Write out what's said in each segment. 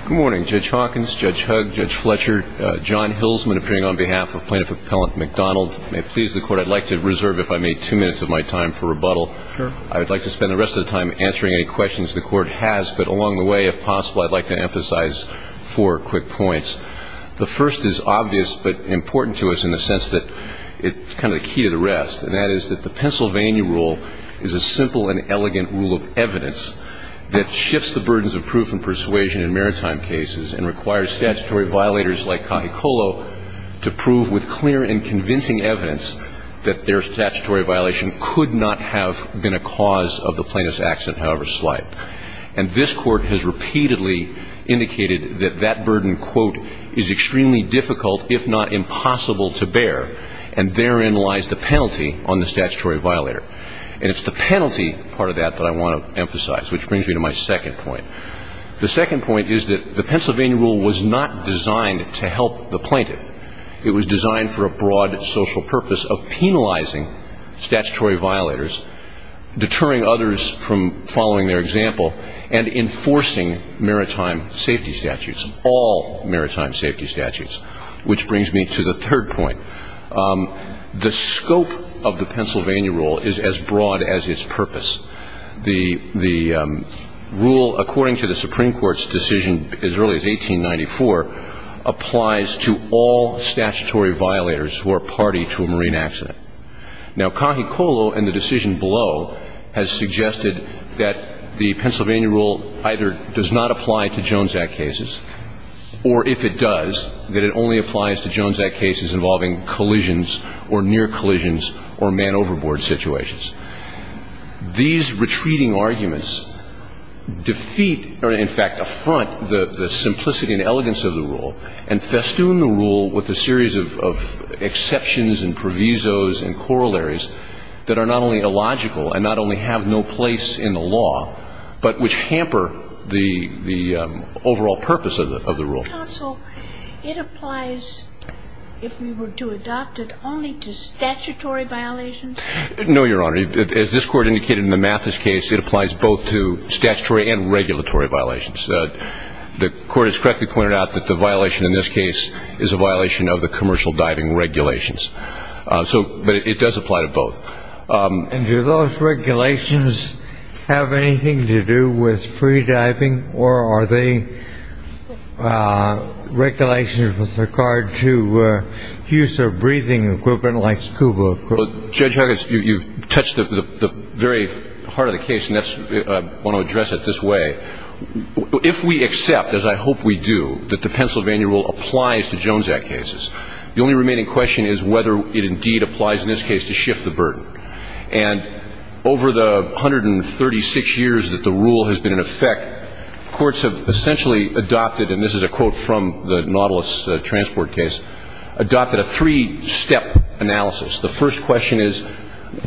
Good morning, Judge Hawkins, Judge Hugg, Judge Fletcher, John Hilsman appearing on behalf of Plaintiff Appellant McDonald. May it please the Court, I'd like to reserve, if I may, two minutes of my time for rebuttal. I would like to spend the rest of the time answering any questions the Court has, but along the way, if possible, I'd like to emphasize four quick points. The first is obvious but important to us in the sense that it's kind of the key to the rest, and that is that the Pennsylvania Rule is a simple and elegant rule of evidence that shifts the burdens of proof and persuasion in maritime cases and requires statutory violators like Kahikolu to prove with clear and convincing evidence that their statutory violation could not have been a cause of the plaintiff's accident, however slight. And this Court has repeatedly indicated that that burden, quote, is extremely difficult, if not impossible to bear, and therein lies the penalty on the statutory violator. And it's the penalty part of that that I want to emphasize, which brings me to my second point. The second point is that the Pennsylvania Rule was not designed to help the plaintiff. It was designed for a broad social purpose of penalizing statutory violators, deterring others from following their example, and enforcing maritime safety statutes, all maritime safety statutes, which the scope of the Pennsylvania Rule is as broad as its purpose. The rule, according to the Supreme Court's decision as early as 1894, applies to all statutory violators who are party to a marine accident. Now, Kahikolu and the decision below has suggested that the Pennsylvania Rule either does not apply to Jones Act cases, or if it does, that it only applies to Jones Act cases involving collisions or near collisions or man overboard situations. These retreating arguments defeat or, in fact, affront the simplicity and elegance of the rule, and festoon the rule with a series of exceptions and provisos and corollaries that are not only illogical and not only have no place in the law, but which hamper the overall purpose of the rule. Counsel, it applies, if we were to adopt it, only to statutory violations? No, Your Honor. As this Court indicated in the Mathis case, it applies both to statutory and regulatory violations. The Court has correctly pointed out that the violation in this case is a violation of the commercial diving regulations. But it does apply to both. And do those regulations have anything to do with free diving, or are they regulations with regard to use of breathing equipment like scuba equipment? Judge Huggins, you've touched the very heart of the case, and that's why I want to address it this way. If we accept, as I hope we do, that the Pennsylvania Rule applies to Jones Act cases, the only remaining question is whether it indeed applies in this case to shift the burden. And over the 136 years that the rule has been in effect, courts have essentially adopted, and this is a quote from the Nautilus transport case, adopted a three-step analysis. The first question is,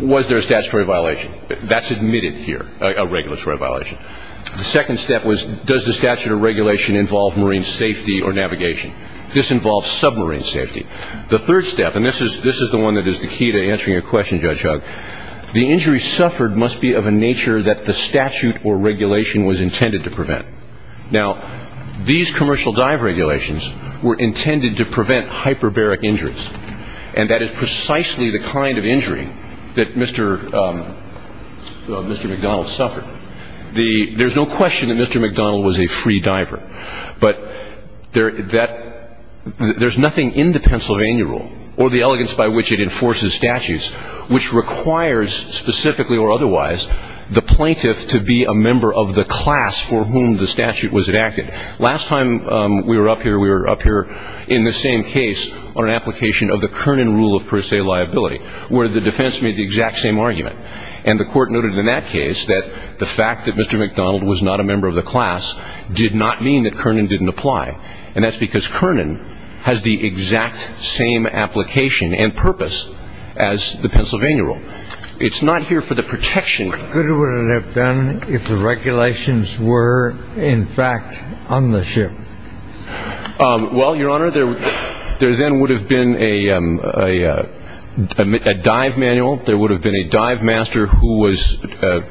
was there a statutory violation? That's admitted here, a regulatory violation. The second step was, does the statute of regulation involve marine safety or navigation? This involves submarine safety. The third step, and this is the one that is the key to answering your question, Judge Huggins, the injury suffered must be of a nature that the statute or regulation was intended to prevent. Now, these commercial dive regulations were intended to prevent hyperbaric injuries, and that is precisely the kind of injury that Mr. McDonald suffered. There's no question that Mr. McDonald was a free diver, but there's nothing in the Pennsylvania Rule or the elegance by which it enforces statutes which requires, specifically or otherwise, the plaintiff to be a member of the class for whom the statute was enacted. Last time we were up here, we were up here in the same case on an application of the Kernan rule of per se liability, where the defense made the exact same argument. And the court noted in that case that the fact that Mr. McDonald was not a member of the class did not mean that Kernan didn't apply. And that's because as the Pennsylvania Rule. It's not here for the protection. Could it have been if the regulations were, in fact, on the ship? Well, Your Honor, there then would have been a dive manual. There would have been a dive master who was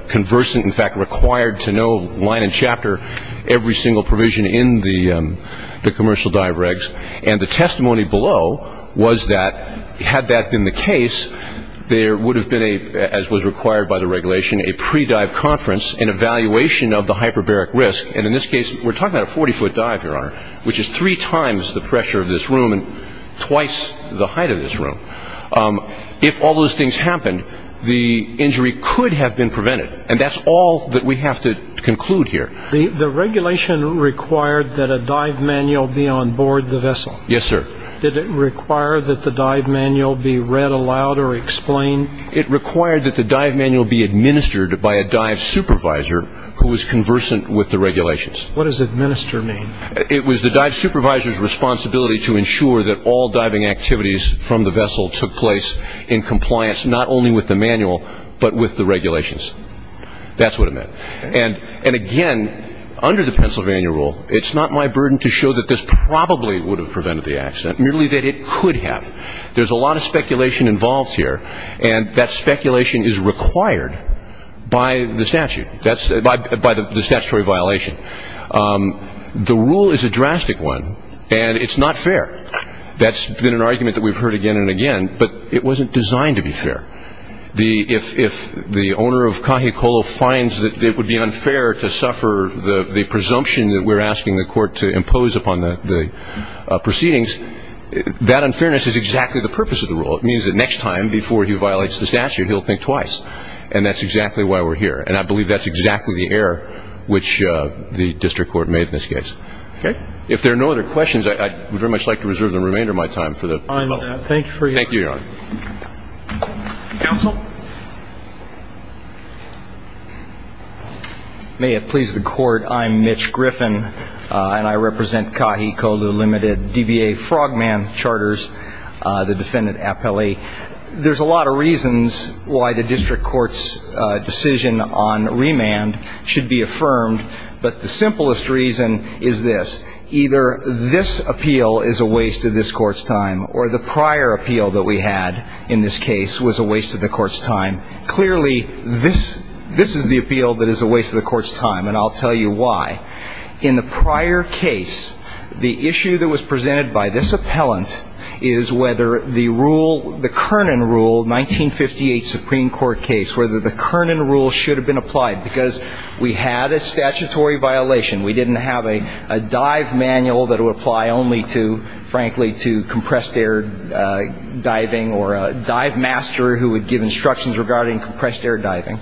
conversant, in fact, required to know line and chapter every single provision in the commercial dive regs. And the testimony below was that had that been the case, there would have been, as was required by the regulation, a pre-dive conference and evaluation of the hyperbaric risk. And in this case, we're talking about a 40-foot dive, Your Honor, which is three times the pressure of this room and twice the height of this room. If all those things happened, the injury could have been prevented. And that's all that we have to conclude here. The regulation required that a dive manual be on board the vessel? Yes, sir. Did it require that the dive manual be read aloud or explained? It required that the dive manual be administered by a dive supervisor who was conversant with the regulations. What does administer mean? It was the dive supervisor's responsibility to ensure that all diving activities from the vessel took place in compliance not only with the manual, but with the regulations. That's what it meant. And again, under the Pennsylvania rule, it's not my burden to show that this probably would have prevented the accident, merely that it could have. There's a lot of speculation involved here, and that speculation is required by the statute, by the statutory violation. The rule is a drastic one, and it's not fair. That's been an argument that we've heard again and again, but it wasn't designed to be fair. If the owner of Kahikolo finds that it would be unfair to suffer the presumption that we're asking the court to impose upon the proceedings, that unfairness is exactly the purpose of the rule. It means that next time, before he violates the statute, he'll think twice. And that's exactly why we're here. And I believe that's exactly the error which the district court made in this case. If there are no other questions, I would very much like to reserve the remainder of my time for the panel. Thank you for your time. Thank you, Your Honor. Counsel? May it please the Court, I'm Mitch Griffin, and I represent Kahikolo Limited, DBA Frogman Charters, the defendant Appelli. There's a lot of reasons why the district court's decision on remand should be affirmed, but the simplest reason is this. Either this appeal is a waste of this court's time, or the prior appeal that we had in this case was a waste of the court's time. Clearly, this is the appeal that is a waste of the court's time, and I'll tell you why. In the prior case, the issue that was presented by this appellant is whether the rule, the Kernan rule, 1958 Supreme Court case, whether the Kernan rule should have been applied, because we had a statutory violation. We didn't have a dive manual that would apply only to, frankly, to compressed air diving or a dive master who would give instructions regarding compressed air diving.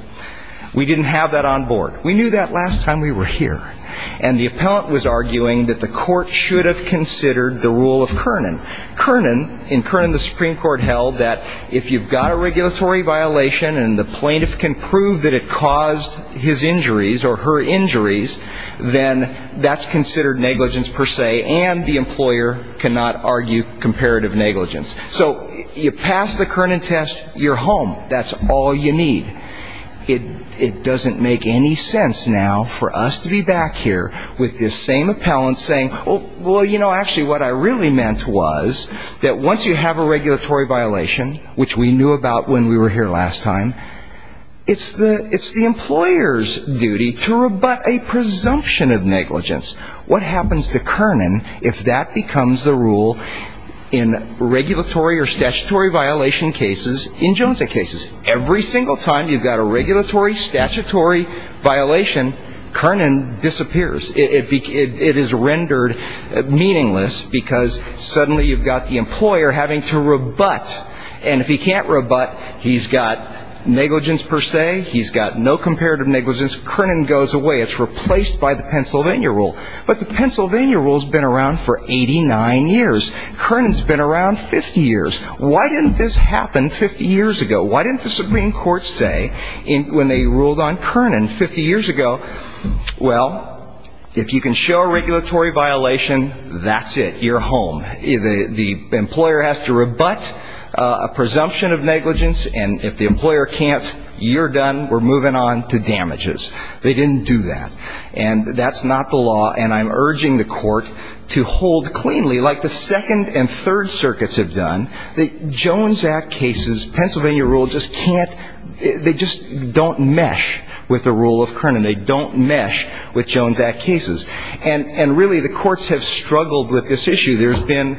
We didn't have that on board. We knew that last time we were here. And the appellant was arguing that the court should have considered the rule of Kernan. Kernan, in Kernan the Supreme Court held that if you've got a regulatory violation and the plaintiff can prove that it caused his injuries or her injuries, then that's considered negligence per se, and the employer cannot argue comparative negligence. So you pass the Kernan test, you're home. That's all you need. It doesn't make any sense now for us to be back here with this same appellant saying, well, you know, actually what I really meant was that once you have a regulatory violation, which we knew about when we were here last time, it's the employer's duty to rebut a presumption of negligence. What happens to Kernan if that becomes the rule in regulatory or statutory violation cases in Jones' cases? Every single time you've got a regulatory, statutory violation, Kernan disappears. It is rendered meaningless because suddenly you've got the employer having to rebut. And if he can't rebut, he's got negligence per se, he's got no comparative negligence, Kernan goes away. It's replaced by the Pennsylvania rule. But the Pennsylvania rule has been around for 89 years. Kernan's been around 50 years. Why didn't this happen 50 years ago? Why didn't the Supreme Court say when they ruled on Kernan 50 years ago, well, if you can show a regulatory violation, that's it, you're home. The employer has to rebut a presumption of negligence, and if the employer can't, you're done, we're moving on to damages. They didn't do that. And that's not the law. And I'm urging the court to hold cleanly, like the Second and Third Circuits have done, that Jones' Act cases, Pennsylvania rule just can't, they just don't mesh with the rule of Kernan. They don't mesh with Jones' Act cases. And really the courts have struggled with this issue. There's been,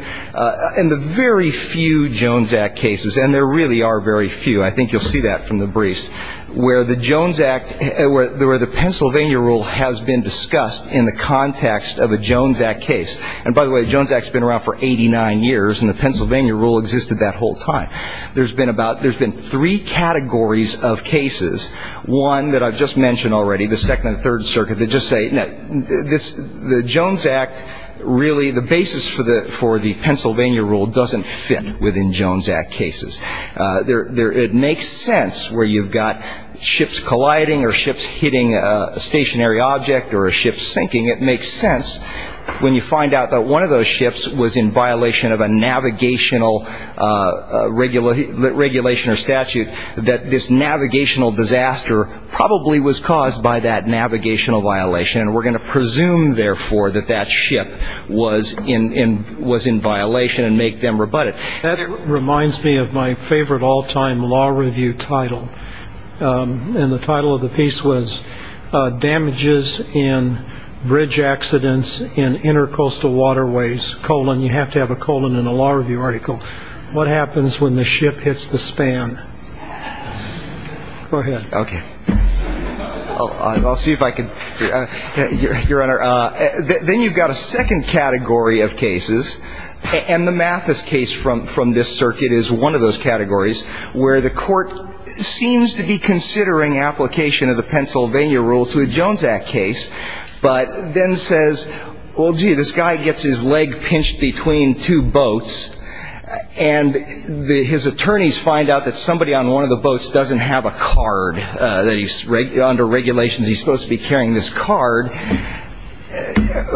in the very few Jones' Act cases, and there really are very few, I think you'll see that from the briefs, where the Jones' Act, where the Pennsylvania rule has been discussed in the context of a Jones' Act case. And by the way, the Jones' Act's been around for 89 years, and the Pennsylvania rule existed that whole time. There's been about, there's been three categories of cases, one that I've just mentioned already, the Second and Third Circuit, that just say, no, the Jones' Act, really the basis for the Pennsylvania rule doesn't fit within Jones' Act cases. It makes sense where you've got ships colliding, or ships hitting a stationary object, or a ship sinking. It makes sense when you find out that one of those ships was in violation of a navigational regulation or statute, that this navigational disaster probably was caused by that navigational violation. And we're going to presume, therefore, that that ship was in violation and make them rebut it. That reminds me of my favorite all-time law review title. And the title of the piece was damages in bridge accidents in intercoastal waterways, colon. You have to have a colon in a law review article. What happens when the ship hits the span? Go ahead. Okay. I'll see if I can. Your Honor, then you've got a second category of cases, and the Mathis case from this circuit is one of those categories where the court seems to be considering application of the Pennsylvania rule to a Jones' Act case, but then says, well, gee, this guy gets his leg pinched between two boats, and his attorneys find out that somebody on one of the boats doesn't have a card. Under regulations, he's supposed to be carrying this card.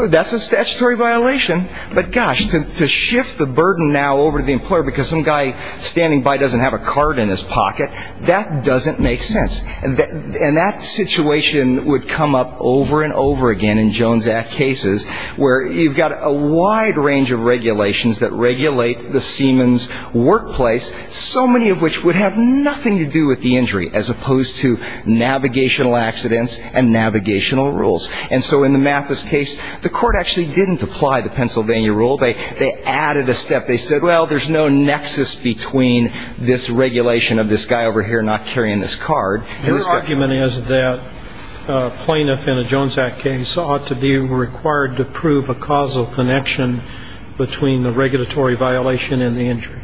That's a statutory violation. But gosh, to shift the burden now over to the employer because some guy standing by doesn't have a card in his pocket, that doesn't make sense. And that situation would come up over and over again in Jones' Act cases where you've got a wide range of regulations that regulate the seaman's workplace, so many of which would have nothing to do with the injury, as opposed to navigational accidents and navigational rules. And so in the Mathis case, the court actually didn't apply the Pennsylvania rule. They added a step. They said, well, there's no nexus between this guy carrying this card. Your argument is that a plaintiff in a Jones' Act case ought to be required to prove a causal connection between the regulatory violation and the injury.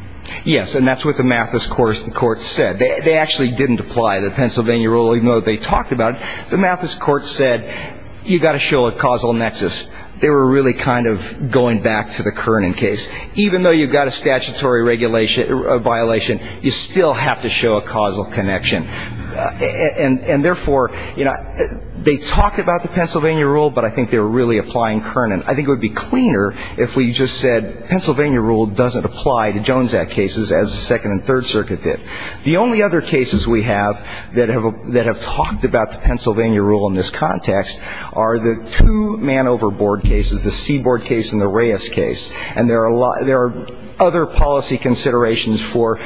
Yes. And that's what the Mathis court said. They actually didn't apply the Pennsylvania rule, even though they talked about it. The Mathis court said, you've got to show a causal nexus. They were really kind of going back to the Kernan case. Even though you've got statutory violation, you still have to show a causal connection. And therefore, you know, they talked about the Pennsylvania rule, but I think they were really applying Kernan. I think it would be cleaner if we just said Pennsylvania rule doesn't apply to Jones' Act cases as the Second and Third Circuit did. The only other cases we have that have talked about the Pennsylvania rule in this context are the two man-over-board cases, the Seaboard case and the Reyes case. And there are a lot of other policy considerations for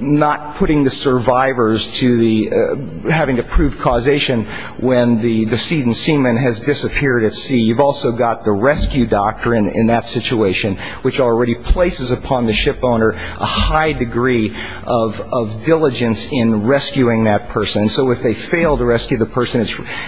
not putting the survivors to the ‑‑ having to prove causation when the decedent seaman has disappeared at sea. You've also got the rescue doctrine in that situation, which already places upon the shipowner a high degree of diligence in rescuing that person. So if they fail to rescue the person,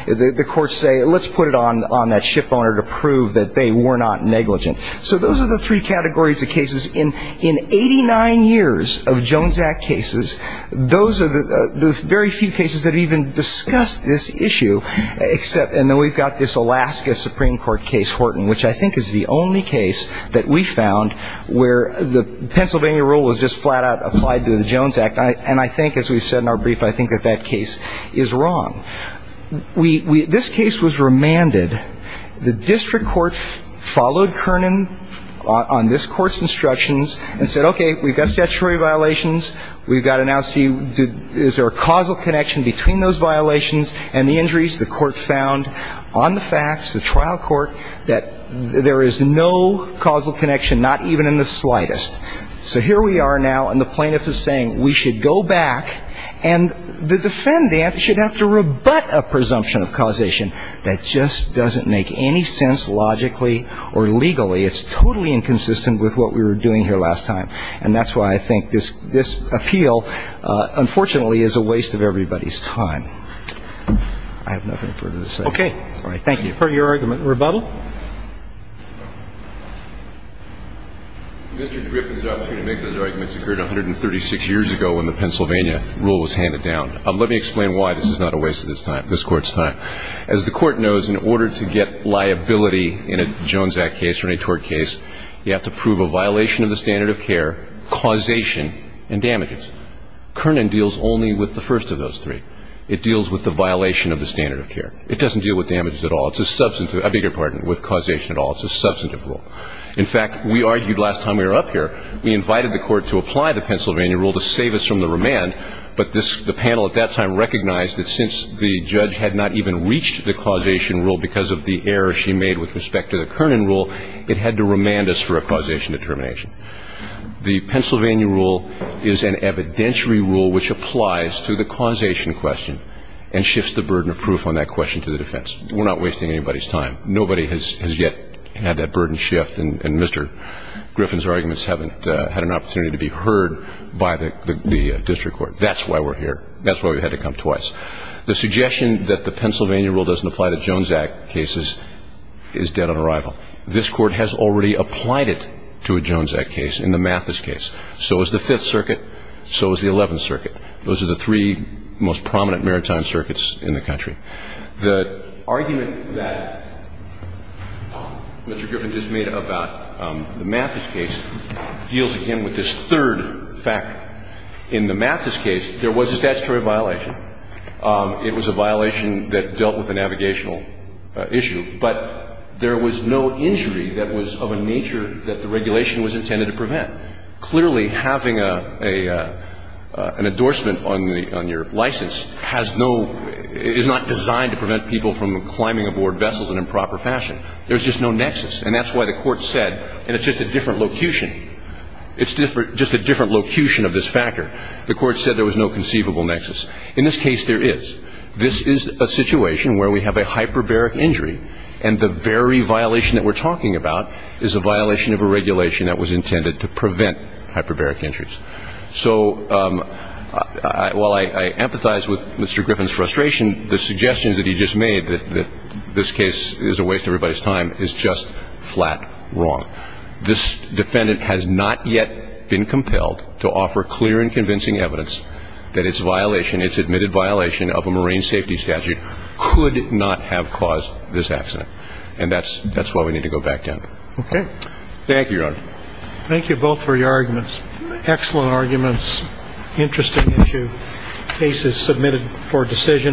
the courts say, let's put it on that shipowner to prove that they were not negligent. So those are the three categories of cases. In 89 years of Jones Act cases, those are the very few cases that even discuss this issue, except ‑‑ and then we've got this Alaska Supreme Court case, Horton, which I think is the only case that we found where the Pennsylvania rule was just flat out applied to the Jones Act. And I think, as we've said in our brief, I think that that case is wrong. We ‑‑ this case was remanded. The district court followed Kernan on this court's instructions and said, okay, we've got statutory violations. We've got to now see, is there a causal connection between those violations and the injuries? The court found on the facts, the trial court, that there is no causal connection, not even in the slightest. So here we are now, and the defendant should have to rebut a presumption of causation that just doesn't make any sense logically or legally. It's totally inconsistent with what we were doing here last time. And that's why I think this ‑‑ this appeal, unfortunately, is a waste of everybody's time. I have nothing further to say. Okay. All right. Thank you. Per your argument, rebuttal. Mr. Griffin's opportunity to make those arguments occurred 136 years ago when the Pennsylvania rule was handed down. Let me explain why this is not a waste of this court's time. As the court knows, in order to get liability in a Jones Act case or any tort case, you have to prove a violation of the standard of care, causation, and damages. Kernan deals only with the first of those three. It deals with the violation of the standard of care. It doesn't deal with damages at all. It's a substantive ‑‑ I beg your pardon, with causation at all. It's a substantive rule. In fact, we argued last time we were up here, we invited the court to apply the Pennsylvania rule to save us from the remand, but the panel at that time recognized that since the judge had not even reached the causation rule because of the error she made with respect to the Kernan rule, it had to remand us for a causation determination. The Pennsylvania rule is an evidentiary rule which applies to the causation question and shifts the burden of proof on that question to the defense. We're not wasting anybody's time. Nobody has yet had that burden shift, and Mr. Griffin's arguments haven't had an opportunity to be heard by the district court. That's why we're here. That's why we had to come twice. The suggestion that the Pennsylvania rule doesn't apply to Jones Act cases is dead on arrival. This Court has already applied it to a Jones Act case in the Mathis case. So is the Fifth Circuit. So is the Eleventh Circuit. Those are the three most prominent maritime circuits in the country. The argument that Mr. Griffin just made about the Mathis case deals again with this third factor. In the Mathis case, there was a statutory violation. It was a violation that dealt with a navigational issue, but there was no injury that was of a nature that the regulation was intended to prevent. Clearly, having a — an endorsement on the — on your license has no — is not designed to prevent people from climbing aboard vessels in improper fashion. There's just no nexus. And that's why the Court said — and it's just a different locution. It's just a different locution of this factor. The Court said there was no conceivable nexus. In this case, there is. This is a situation where we have a hyperbaric injury, and the very violation that we're talking about is a violation of a regulation that was intended to prevent hyperbaric injuries. So while I empathize with Mr. Griffin's frustration, the suggestion that he just made that this case is a waste of everybody's time is just flat wrong. This defendant has not yet been compelled to offer clear and convincing evidence that its violation, its admitted violation of a marine safety statute, could not have caused this accident. And that's why we need to go back down. Okay. Thank you, Your Honor. Thank you both for your arguments. Excellent arguments. Interesting issue. Case is submitted for decision on